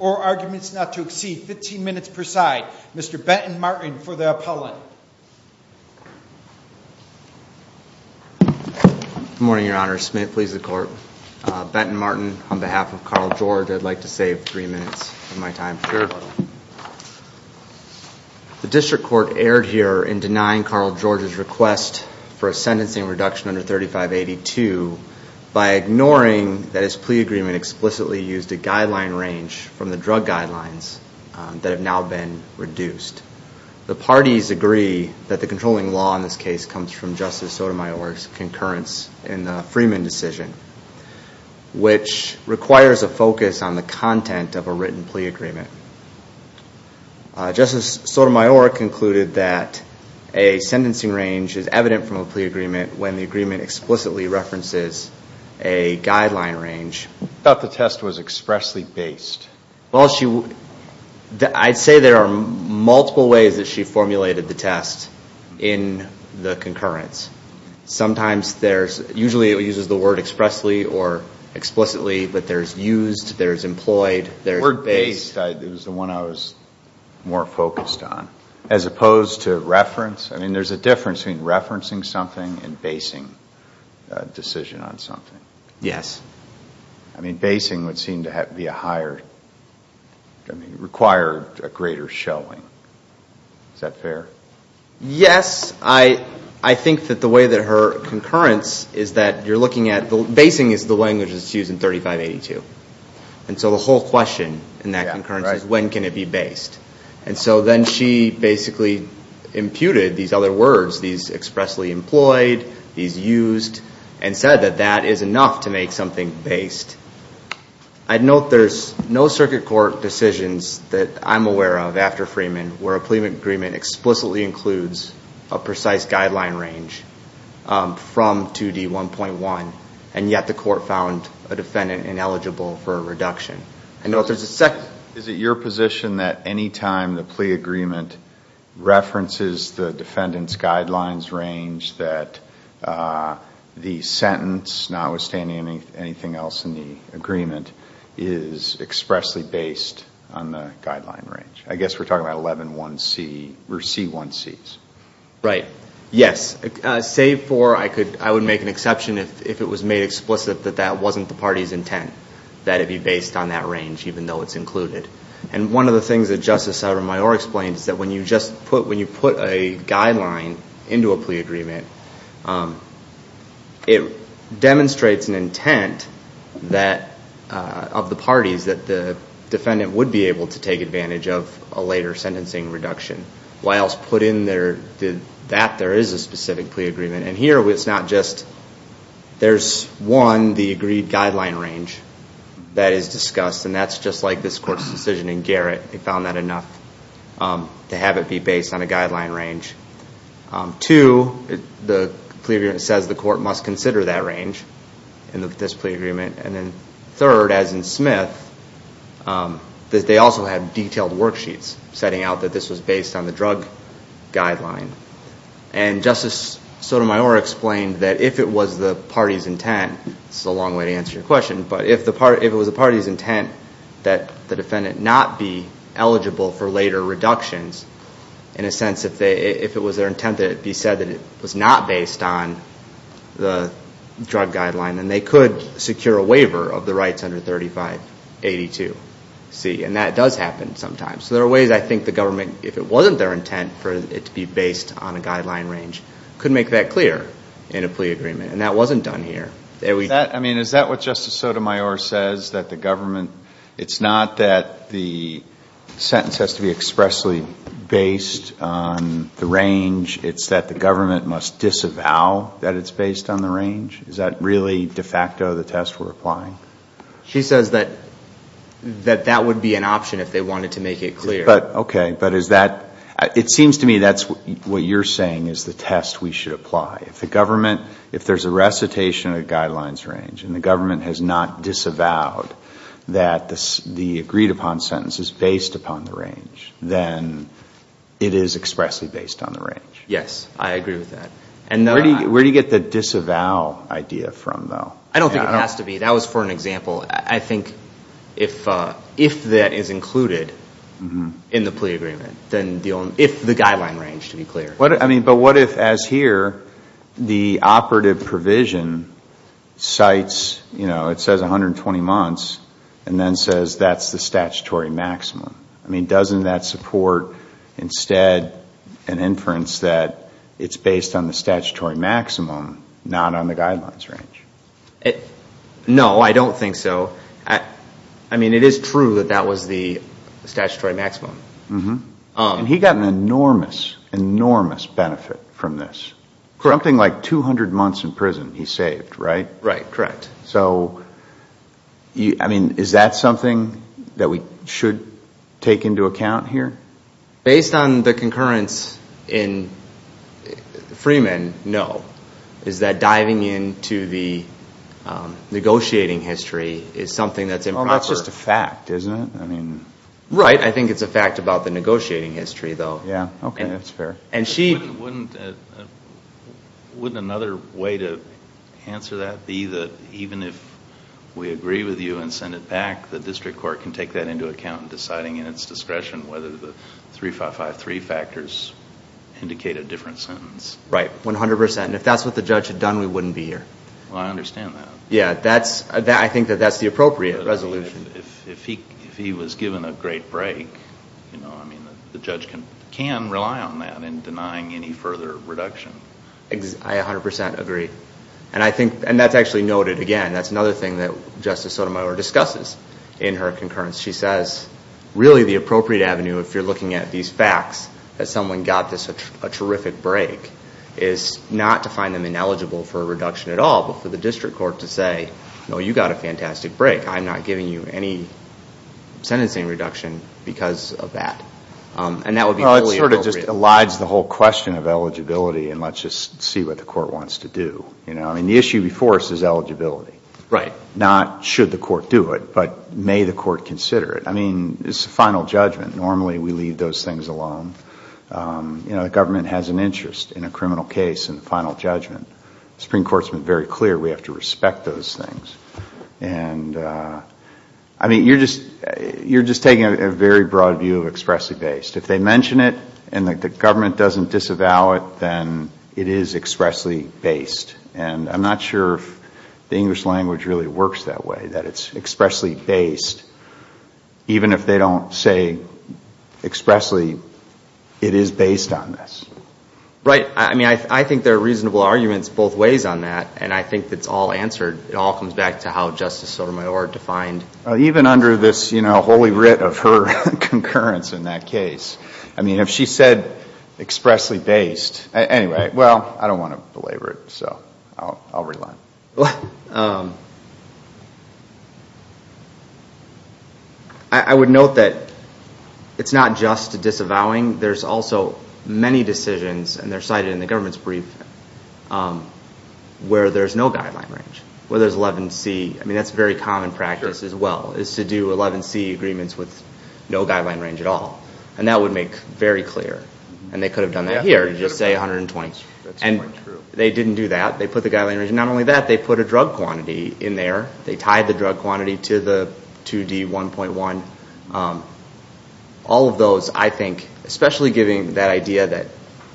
or arguments not to exceed 15 minutes per side. Mr. Benton Martin for the appellant. Good morning your honor. Smith please the court. Benton Martin on behalf of Carl George I'd like to save three minutes of my time. The district court erred here in denying Carl George's request for a sentencing reduction under 3582 by ignoring that his plea agreement explicitly used a guideline range from the drug guidelines that have now been reduced. The parties agree that the controlling law in this case comes from Justice Sotomayor's concurrence in the Freeman decision which requires a focus on the content of a written plea agreement. Justice Sotomayor concluded that a sentencing range is evident from a plea agreement when the agreement explicitly references a guideline range. I thought the test was expressly based. Well she would I'd say there are multiple ways that she formulated the test in the concurrence. Sometimes there's usually it uses the word expressly or explicitly but there's used, there's employed, there's based. It was the one I was more focused on as opposed to reference. I mean there's a difference between referencing something and basing a decision on something. Yes. I mean basing would seem to be a higher I mean require a greater showing. Is that fair? Yes I I think that the way that her concurrence is that you're looking at the basing is the language that's used in 3582 and so the whole question in that concurrence is when can it be based and so then she basically imputed these other words these expressly employed, these used and said that that is enough to make something based. I'd note there's no circuit court decisions that I'm aware of after Freeman where a plea agreement explicitly includes a precise guideline range from 2d 1.1 and yet the court found a defendant ineligible for a reduction. I know there's a second. Is it your position that any time the plea agreement references the defendants guidelines range that the sentence notwithstanding anything else in the agreement is expressly based on the guideline range? I guess we're talking about 11 1 C or C 1 C's. Right yes save for I could I would make an exception if it was made explicit that that wasn't the party's intent that it be based on that range even though it's included and one of the things that Justice Sotomayor explained is that when you just put when you put a guideline into a plea agreement it demonstrates an intent that of the parties that the defendant would be able to take advantage of a later sentencing reduction. Why else put in there did that there is a specific plea agreement and here it's not just there's one the agreed guideline range that is discussed and that's just like this court's decision in Garrett. They found that enough to have it be based on a the plea agreement says the court must consider that range in the this plea agreement and then third as in Smith that they also have detailed worksheets setting out that this was based on the drug guideline and Justice Sotomayor explained that if it was the party's intent this is a long way to answer your question but if the part if it was a party's intent that the defendant not be eligible for later reductions in a sense if they if it was their intent that it be said that it was not based on the drug guideline and they could secure a waiver of the rights under 3582 C and that does happen sometimes so there are ways I think the government if it wasn't their intent for it to be based on a guideline range could make that clear in a plea agreement and that wasn't done here. I mean is that what Justice Sotomayor says that the government it's not that the sentence has to be expressly based on the range it's that the government must disavow that it's based on the range is that really de facto the test we're applying? She says that that that would be an option if they wanted to make it clear. But okay but is that it seems to me that's what you're saying is the test we should apply if the government if there's a recitation of guidelines range and the then it is expressly based on the range. Yes I agree with that. And where do you get the disavow idea from though? I don't think it has to be that was for an example I think if if that is included in the plea agreement then the only if the guideline range to be clear. What I mean but what if as here the operative provision cites you know it says 120 months and then says that's the statutory maximum. I mean doesn't that support instead an inference that it's based on the statutory maximum not on the guidelines range? No I don't think so. I mean it is true that that was the statutory maximum. Mm-hmm. He got an enormous enormous benefit from this. Correct. Something like 200 months in prison he saved right? Right correct. So you I mean is that something that we should take into account here? Based on the concurrence in Freeman no. Is that diving into the negotiating history is something that's improper. That's just a fact isn't it? I mean right I think it's a fact about the negotiating history though. Yeah okay that's fair. And she wouldn't wouldn't another way to answer that be that even if we agree with you and send it back the district court can take that into account deciding in its discretion whether the three five five three factors indicate a different sentence. Right 100% and if that's what the judge had done we wouldn't be here. Well I understand that. Yeah that's that I think that that's the appropriate resolution. If he if he was given a great break you know I mean the judge can can rely on that in denying any further reduction. I 100% agree. And I think and that's actually noted again that's another thing that Justice Sotomayor discusses in her concurrence. She says really the appropriate avenue if you're looking at these facts that someone got this a terrific break is not to find them ineligible for a reduction at all but for the district court to say no you got a fantastic break. I'm not giving you any sentencing reduction because of that. And that would be sort of just elides the whole question of eligibility and let's just see what the court wants to do. You know I mean the issue before us is eligibility. Right. Not should the court do it but may the court consider it. I mean it's a final judgment. Normally we leave those things alone. You know the government has an interest in a criminal case in the final judgment. Supreme Court's been very clear we have to respect those things. And I mean you're just you're just taking a very broad view of expressly based. If they mention it and the government doesn't disavow it then it is expressly based. And I'm not sure if the English language really works that way that it's expressly based even if they don't say expressly it is based on this. Right. I mean I think there are reasonable arguments both ways on that. And I think it's all answered. It all comes back to how Justice Sotomayor defined. Even under this you know holy writ of her concurrence in that case. I mean if she said expressly based. Anyway well I don't want to belabor it so I'll rely. I would note that it's not just disavowing. There's also many decisions and they're cited in the government's brief where there's no guideline range. Where there's 11C. I mean that's very common practice as well is to do 11C agreements with no guideline range at all. And that would make very clear. And they could have done that here. Just say 120. And they didn't do that. They put the guideline range. Not only that they put a drug quantity in there. They tied the drug quantity to the 2D 1.1. All of those I think especially giving that idea that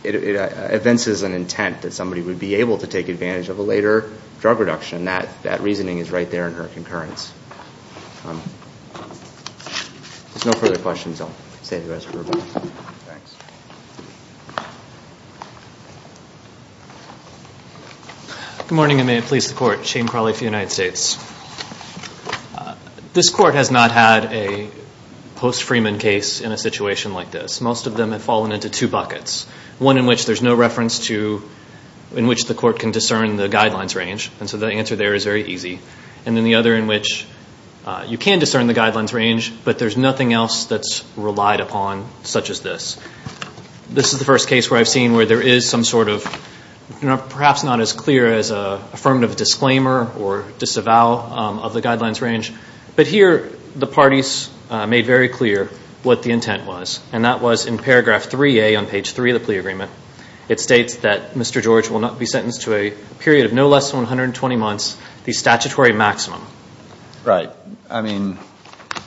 it evinces an intent that somebody would be able to take advantage of a later drug reduction. That reasoning is right there in her concurrence. If there's no further questions I'll save the rest for Robyn. Good morning and may it please the court. Shane Crawley for the United States. This court has not had a post-Freeman case in a situation like this. Most of them have fallen into two buckets. One in which there's no reference to in which the court can discern the guidelines range. And so the answer there is very easy. And then the other in which you can discern the guidelines range but there's nothing else that's relied upon such as this. This is the first case where I've seen where there is some sort of perhaps not as clear as an affirmative disclaimer or disavow of the parties made very clear what the intent was. And that was in paragraph 3A on page 3 of the plea agreement. It states that Mr. George will not be sentenced to a period of no less than 120 months the statutory maximum. Right. I mean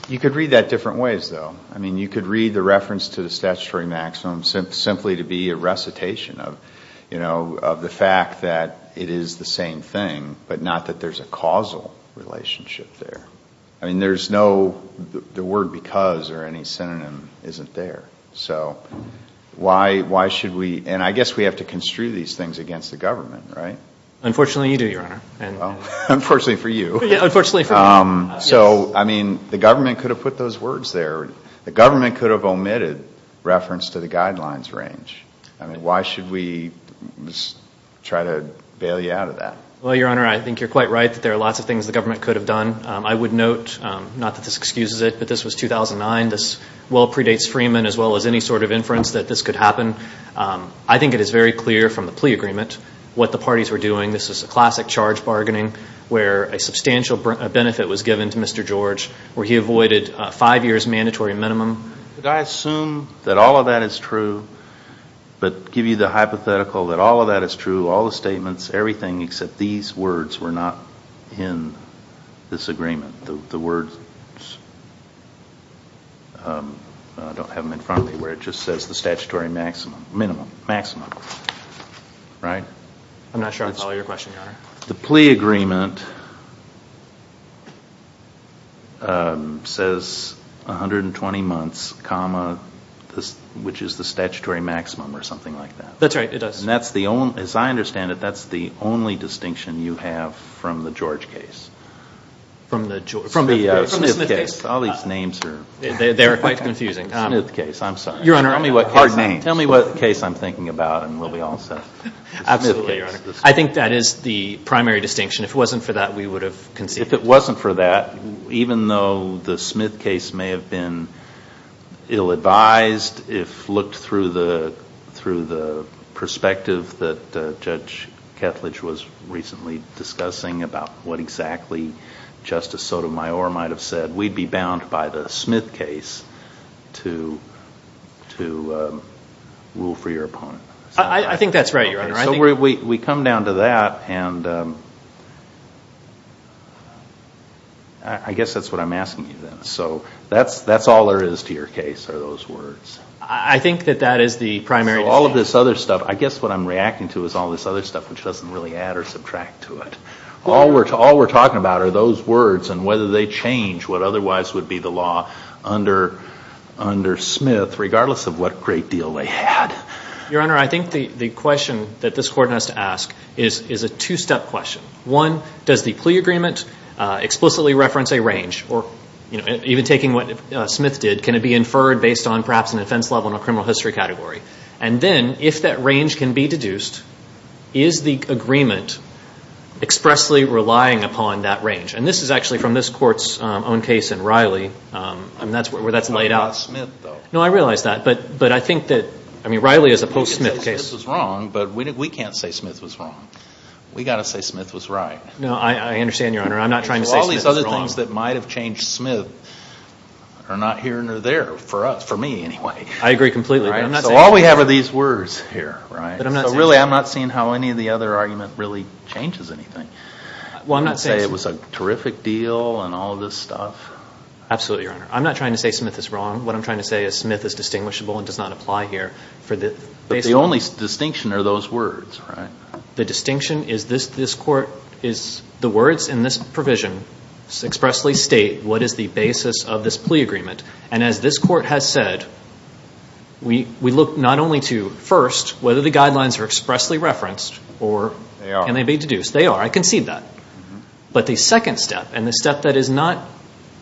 you could read that different ways though. I mean you could read the reference to the statutory maximum simply to be a recitation of you know of the fact that it is the same thing but not that there's a causal relationship there. I mean there's no the word because or any synonym isn't there. So why should we and I guess we have to construe these things against the government right? Unfortunately you do your honor. Unfortunately for you. Yeah unfortunately for me. So I mean the government could have put those words there. The government could have omitted reference to the guidelines range. I mean why should we just try to bail you out of that? Well your honor I think you're quite right that there are lots of things the government could have done. I would note not that this excuses it but this was 2009. This well predates Freeman as well as any sort of inference that this could happen. I think it is very clear from the plea agreement what the parties were doing. This is a classic charge bargaining where a substantial benefit was given to Mr. George where he avoided five years mandatory minimum. Did I assume that all of that is true but give you the hypothetical that all of that is true all the statements everything except these words were not in this agreement. The words I don't have them in front of me where it just says the statutory maximum minimum maximum right? I'm not sure I follow your question your honor. The plea agreement says 120 months comma this which is the statutory maximum or something like that. That's right it does. That's the only as I understand it that's the only distinction you have from the George case. From the Smith case. All these names are they're quite confusing. Smith case I'm sorry. Your honor. Tell me what case I'm thinking about and we'll be all set. Absolutely your honor. I think that is the primary distinction if it wasn't for that we would have conceived. If it wasn't for that even though the Smith case may have been ill-advised if looked through the through the perspective that Judge Ketledge was recently discussing about what exactly Justice Sotomayor might have said we'd be bound by the Smith case to to rule for your opponent. I think that's right your honor. So we come down to that and I guess that's what I'm asking you then. So that's that's all there is to your case are those words. I think that that is the primary. All of this other stuff I guess what I'm reacting to is all this other stuff which doesn't really add or subtract to it. All we're all we're talking about are those words and whether they change what otherwise would be the law under under Smith regardless of what great deal they had. Your honor I think the the question that this court has to ask is is a two-step question. One does the plea agreement explicitly reference a range or you know even taking what Smith did can it be inferred based on perhaps an offense level in a criminal history category and then if that range can be deduced is the agreement expressly relying upon that range. And this is actually from this court's own case in Riley and that's where that's laid out. No I realize that but but I think that I mean Riley is a post Smith case. This is wrong but we can't say Smith was wrong. We got to say Smith was right. No I understand your honor I'm not trying to say all these other things that might have changed Smith are not here nor there for us for me anyway. I agree completely. So all we have are these words here right but I'm not really I'm not seeing how any of the other argument really changes anything. Well I'm not saying it was a terrific deal and all this stuff. Absolutely your honor. I'm not trying to say Smith is wrong. What I'm trying to say is Smith is distinguishable and does not apply here. But the only distinction are those words right? The distinction is this this court is the words in this provision expressly state what is the basis of this plea agreement and as this court has said we we look not only to first whether the guidelines are expressly referenced or and they be deduced they are I concede that but the second step and the step that is not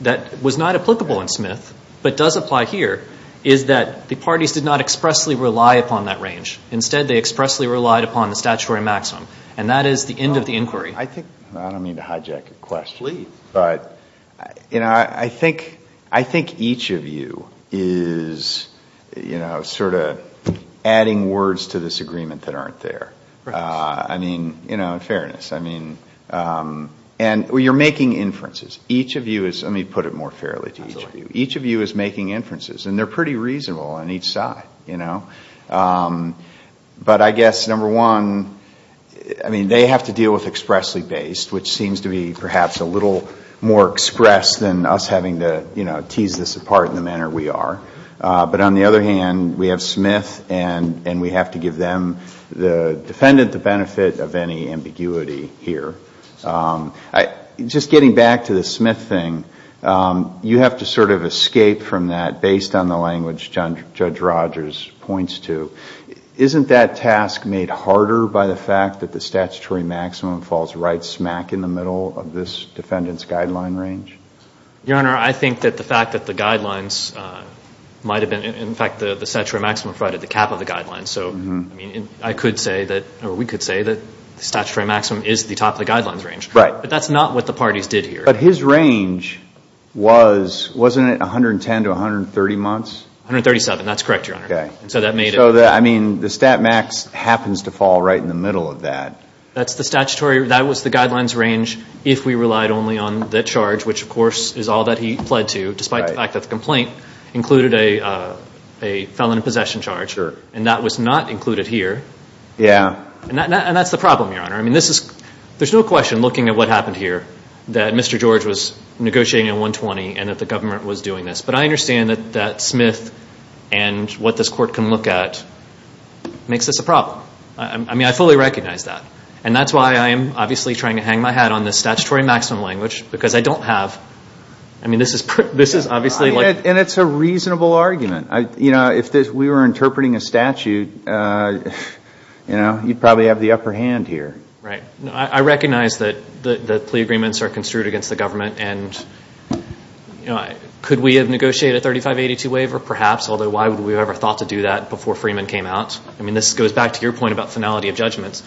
that was not applicable in Smith but does apply here is that the parties did not expressly rely upon that range. Instead they expressly relied upon the statutory maximum and that is the end of the inquiry. I think I don't that aren't there. I mean you know in fairness I mean and well you're making inferences each of you is let me put it more fairly to each of you each of you is making inferences and they're pretty reasonable on each side you know. But I guess number one I mean they have to deal with expressly based which seems to be perhaps a little more expressed than us having to you know tease this manner we are but on the other hand we have Smith and and we have to give them the defendant the benefit of any ambiguity here. I just getting back to the Smith thing you have to sort of escape from that based on the language Judge Rogers points to. Isn't that task made harder by the fact that the statutory maximum falls right smack in the middle of this defendant's guideline range? Your Honor I think that the fact that the guidelines might have been in fact the statutory maximum provided the cap of the guidelines so I mean I could say that or we could say that the statutory maximum is the top of the guidelines range. Right. But that's not what the parties did here. But his range was wasn't it 110 to 130 months? 137 that's correct Your Honor. Okay. So that made it. So that I mean the stat max happens to fall right in the middle of that. That's the statutory that was the guidelines range if we relied only on that charge which of course is all that he pled to despite the fact that the complaint included a a felon in possession charge. Sure. And that was not included here. Yeah. And that's the problem Your Honor. I mean this is there's no question looking at what happened here that Mr. George was negotiating a 120 and that the government was doing this. But I understand that that Smith and what this court can look at makes this a problem. I mean I fully recognize that and that's why I am obviously trying to hang my hat on this statutory maximum language because I don't have. I mean this is obviously. And it's a reasonable argument. You know if this we were interpreting a statute you know you'd probably have the upper hand here. Right. I recognize that the plea agreements are construed against the government and you know could we have negotiated a 3582 waiver perhaps although why would we ever thought to do that before Freeman came out? I mean this goes back to your point about finality of judgments.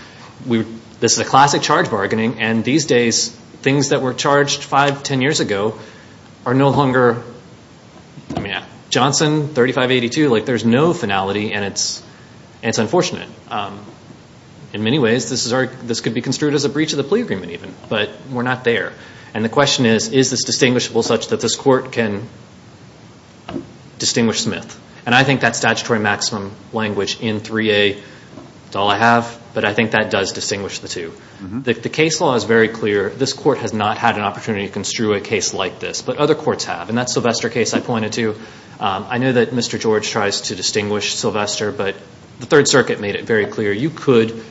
We this is a classic charge bargaining and these days things that were charged five ten years ago are no longer I mean Johnson 3582 like there's no finality and it's it's unfortunate. In many ways this is our this could be construed as a breach of the plea agreement even but we're not there. And the question is is this distinguishable such that this court can distinguish Smith and I think that statutory maximum language in 3a it's all I have but I think that does distinguish the two. The case law is very clear this court has not had an opportunity to construe a case like this but other courts have and that Sylvester case I pointed to I know that Mr. George tries to distinguish Sylvester but the third circuit made it very clear you could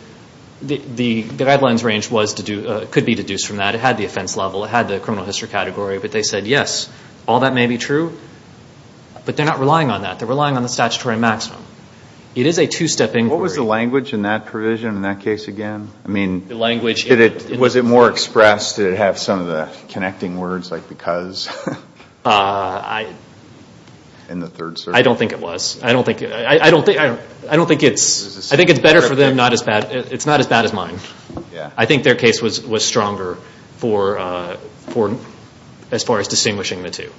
the guidelines range was to do could be deduced from that. It had the offense it had the criminal history category but they said yes all that may be true but they're not relying on that they're relying on the statutory maximum. It is a two-step inquiry. What was the language in that provision in that case again? I mean the language did it was it more expressed did it have some of the connecting words like because? I don't think it was I don't think I don't think I don't think it's I think it's better for them not as bad it's not as bad as I think their case was was stronger for for as far as distinguishing the two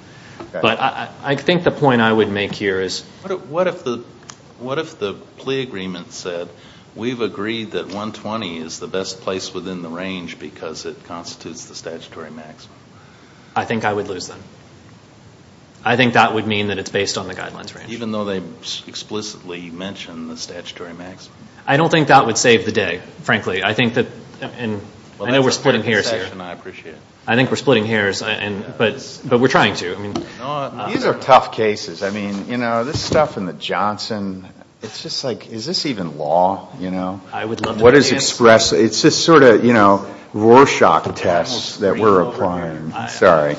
but I think the point I would make here is what if the what if the plea agreement said we've agreed that 120 is the best place within the range because it constitutes the statutory maximum? I think I would lose them I think that would mean that it's based on the guidelines range even though they explicitly mentioned the statutory maximum. I don't think that would save the day frankly I think that and well I know we're splitting hairs here and I appreciate it I think we're splitting hairs and but but we're trying to I mean these are tough cases I mean you know this stuff in the Johnson it's just like is this even law you know? I would love what is expressed it's just sort of you know Rorschach tests that we're applying sorry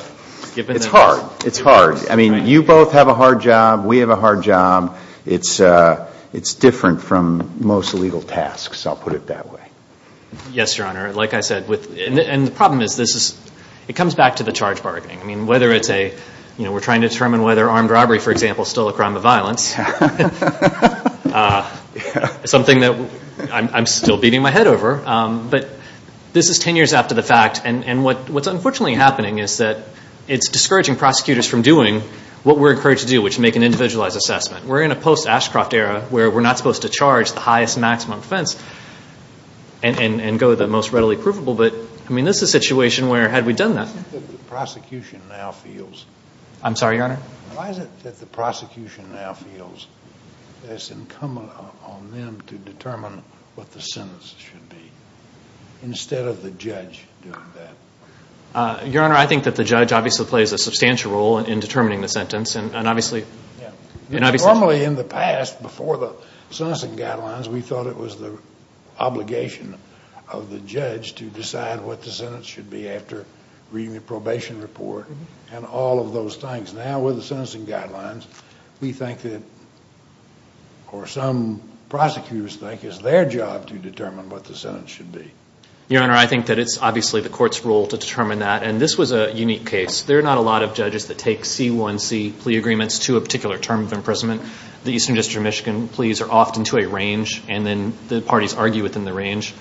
it's hard it's hard I mean you both have a hard job we have a hard job it's uh it's different from most legal tasks I'll put it that way. Yes your honor like I said with and the problem is this is it comes back to the charge bargaining I mean whether it's a you know we're trying to determine whether armed robbery for example is still a crime of violence uh something that I'm still beating my head over um but this is 10 years after the fact and and what what's unfortunately happening is that it's discouraging prosecutors from doing what we're encouraged to do which make an individualized assessment. We're in a post Ashcroft era where we're not supposed to charge the highest maximum offense and and go the most readily provable but I mean this is a situation where had we done that. I think the prosecution now feels I'm sorry your honor why is it that the prosecution now feels it's incumbent on them to determine what the sentence should be instead of the judge doing in determining the sentence and obviously normally in the past before the sentencing guidelines we thought it was the obligation of the judge to decide what the sentence should be after reading the probation report and all of those things now with the sentencing guidelines we think that or some prosecutors think it's their job to determine what the sentence should be. Your honor I think that it's obviously the court's role to determine that and this was a unique case there are not a lot of judges that take c1c plea agreements to a particular term of imprisonment the eastern district of Michigan pleas are often to a range and then the parties argue within the range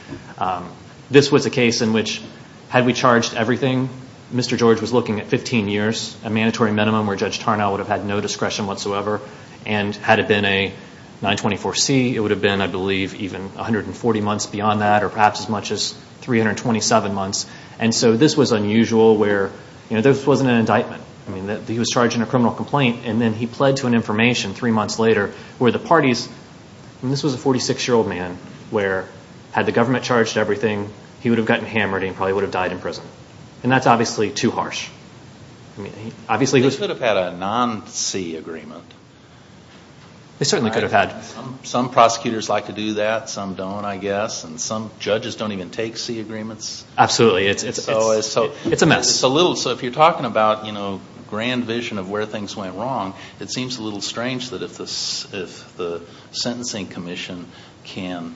this was a case in which had we charged everything Mr. George was looking at 15 years a mandatory minimum where Judge Tarnow would have had no discretion whatsoever and had it been a 924c it would have been I believe even 140 months beyond that or perhaps as much as 327 months and so this was unusual where you know this wasn't an indictment I mean that he was charging a criminal complaint and then he pled to an information three months later where the parties and this was a 46 year old man where had the government charged everything he would have gotten hammered and probably would have died in prison and that's obviously too harsh I mean obviously this could have had a non-c agreement they certainly could have had some prosecutors like to do that some don't I guess and some judges don't even take c agreements absolutely it's always so it's a mess it's a little so if you're talking about you know grand vision of where things went wrong it seems a little strange that if this if the sentencing commission can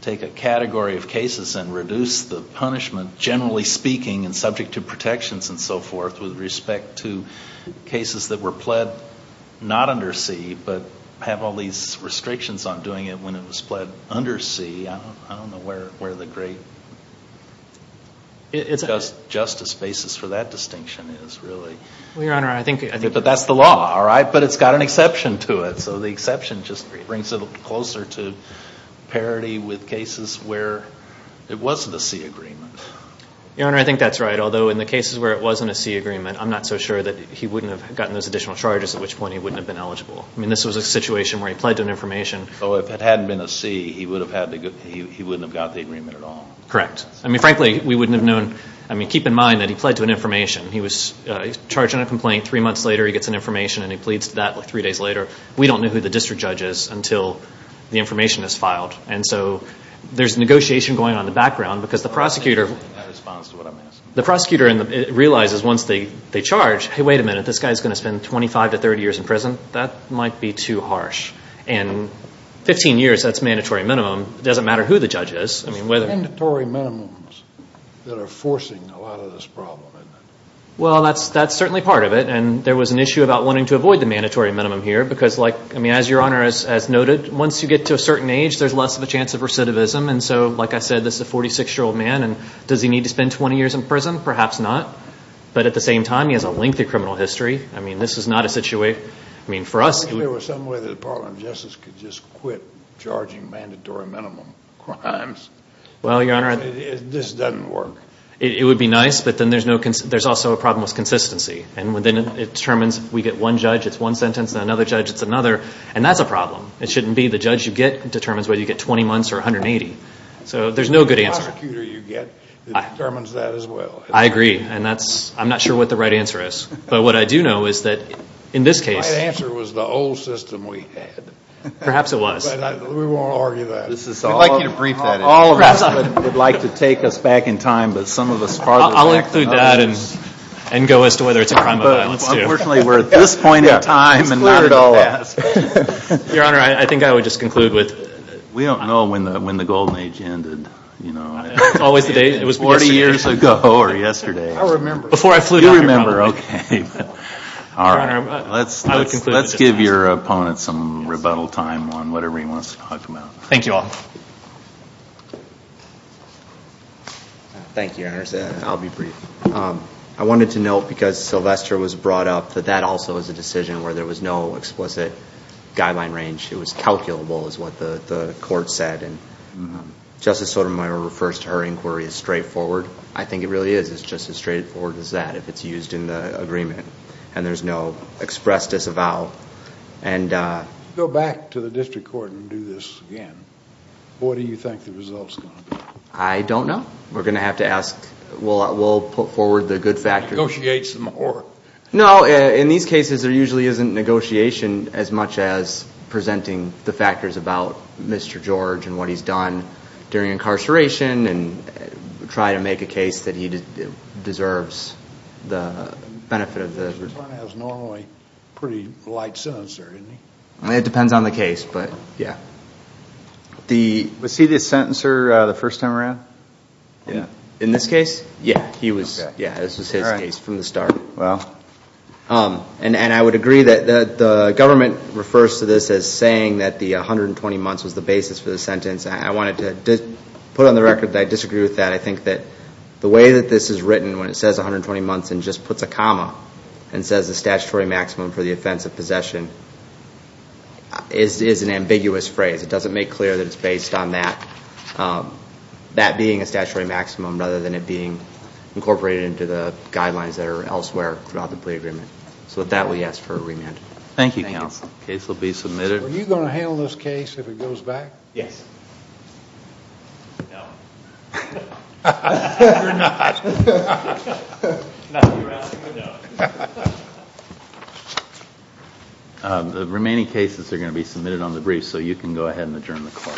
take a category of cases and reduce the punishment generally speaking and subject to protections and so forth with respect to cases that were pled not under c but have all these restrictions on doing it when it was pled under c I don't know where where the great it's just justice basis for that distinction is really well your honor I think but that's the law all right but it's got an exception to it so the exception just brings it closer to parity with cases where it wasn't a c agreement your honor I think that's right although in the cases where it wasn't a c agreement I'm not so sure that he wouldn't have gotten those additional charges at which point he wouldn't have been eligible I mean this was a situation where he pled to an information so if it hadn't been a c he would have had to go he wouldn't have got the agreement at all correct I mean frankly we wouldn't have known I mean keep in mind that he pled to an information he was charging a complaint three months later he gets an information and he pleads to that like three days later we don't know who the district judge is until the information is filed and so there's negotiation going on in the background because the prosecutor responds to what I'm asking the prosecutor realizes once they they charge hey this guy's going to spend 25 to 30 years in prison that might be too harsh and 15 years that's mandatory minimum it doesn't matter who the judge is I mean whether mandatory minimums that are forcing a lot of this problem well that's that's certainly part of it and there was an issue about wanting to avoid the mandatory minimum here because like I mean as your honor as as noted once you get to a certain age there's less of a chance of recidivism and so like I said this is a 46 year old man and does he need to spend 20 years in prison perhaps not but at the same time he has a lengthy criminal history I mean this is not a situation I mean for us if there was some way the department of justice could just quit charging mandatory minimum crimes well your honor this doesn't work it would be nice but then there's no there's also a problem with consistency and within it determines we get one judge it's one sentence and another judge it's another and that's a problem it shouldn't be the judge you get determines whether you get 20 months or 180 so there's no good answer you get it determines that as well I agree and that's I'm not sure what the right answer is but what I do know is that in this case answer was the old system we had perhaps it was we won't argue that this is all like you to brief that all of us would like to take us back in time but some of us I'll include that and and go as to whether it's a crime but unfortunately we're at this point in time and not at all your honor I think I would just conclude with we don't know when the when the golden age ended you know it's always the day it was 40 years ago or yesterday I remember before I flew you remember okay all right let's let's give your opponent some rebuttal time on whatever he wants to talk about thank you all thank you I'll be brief I wanted to note because Sylvester was brought up that that also is a decision where there was no explicit guideline range it was calculable is what the the court said and justice Sotomayor refers to her inquiry is straightforward I think it really is it's just as straightforward as that if it's used in the agreement and there's no express disavow and uh go back to the district court and do this again what do you think the results gonna be I don't know we're gonna have to ask we'll we'll put forward the good factors negotiate some more no in these cases there usually isn't negotiation as much as presenting the factors about Mr. George and what he's done during incarceration and try to make a case that he deserves the benefit of the has normally pretty light sensor didn't he it depends on the case but yeah the was he the sentencer uh the first time around yeah in this case yeah he was yeah this was his case from the start well um and and I would agree that the government refers to this as saying that the 120 months was the basis for the sentence I wanted to put on the record I disagree with that I think that the way that this is written when it says 120 months and just puts a comma and says the statutory maximum for the offense of possession is is an ambiguous phrase it doesn't make clear that it's based on that that being a statutory maximum rather than it being incorporated into the guidelines that are elsewhere throughout the plea agreement so that we ask for a remand thank you counsel case will be submitted are you going to handle this case if it goes back yes the remaining cases are going to be submitted on the brief so you can go ahead and adjourn the call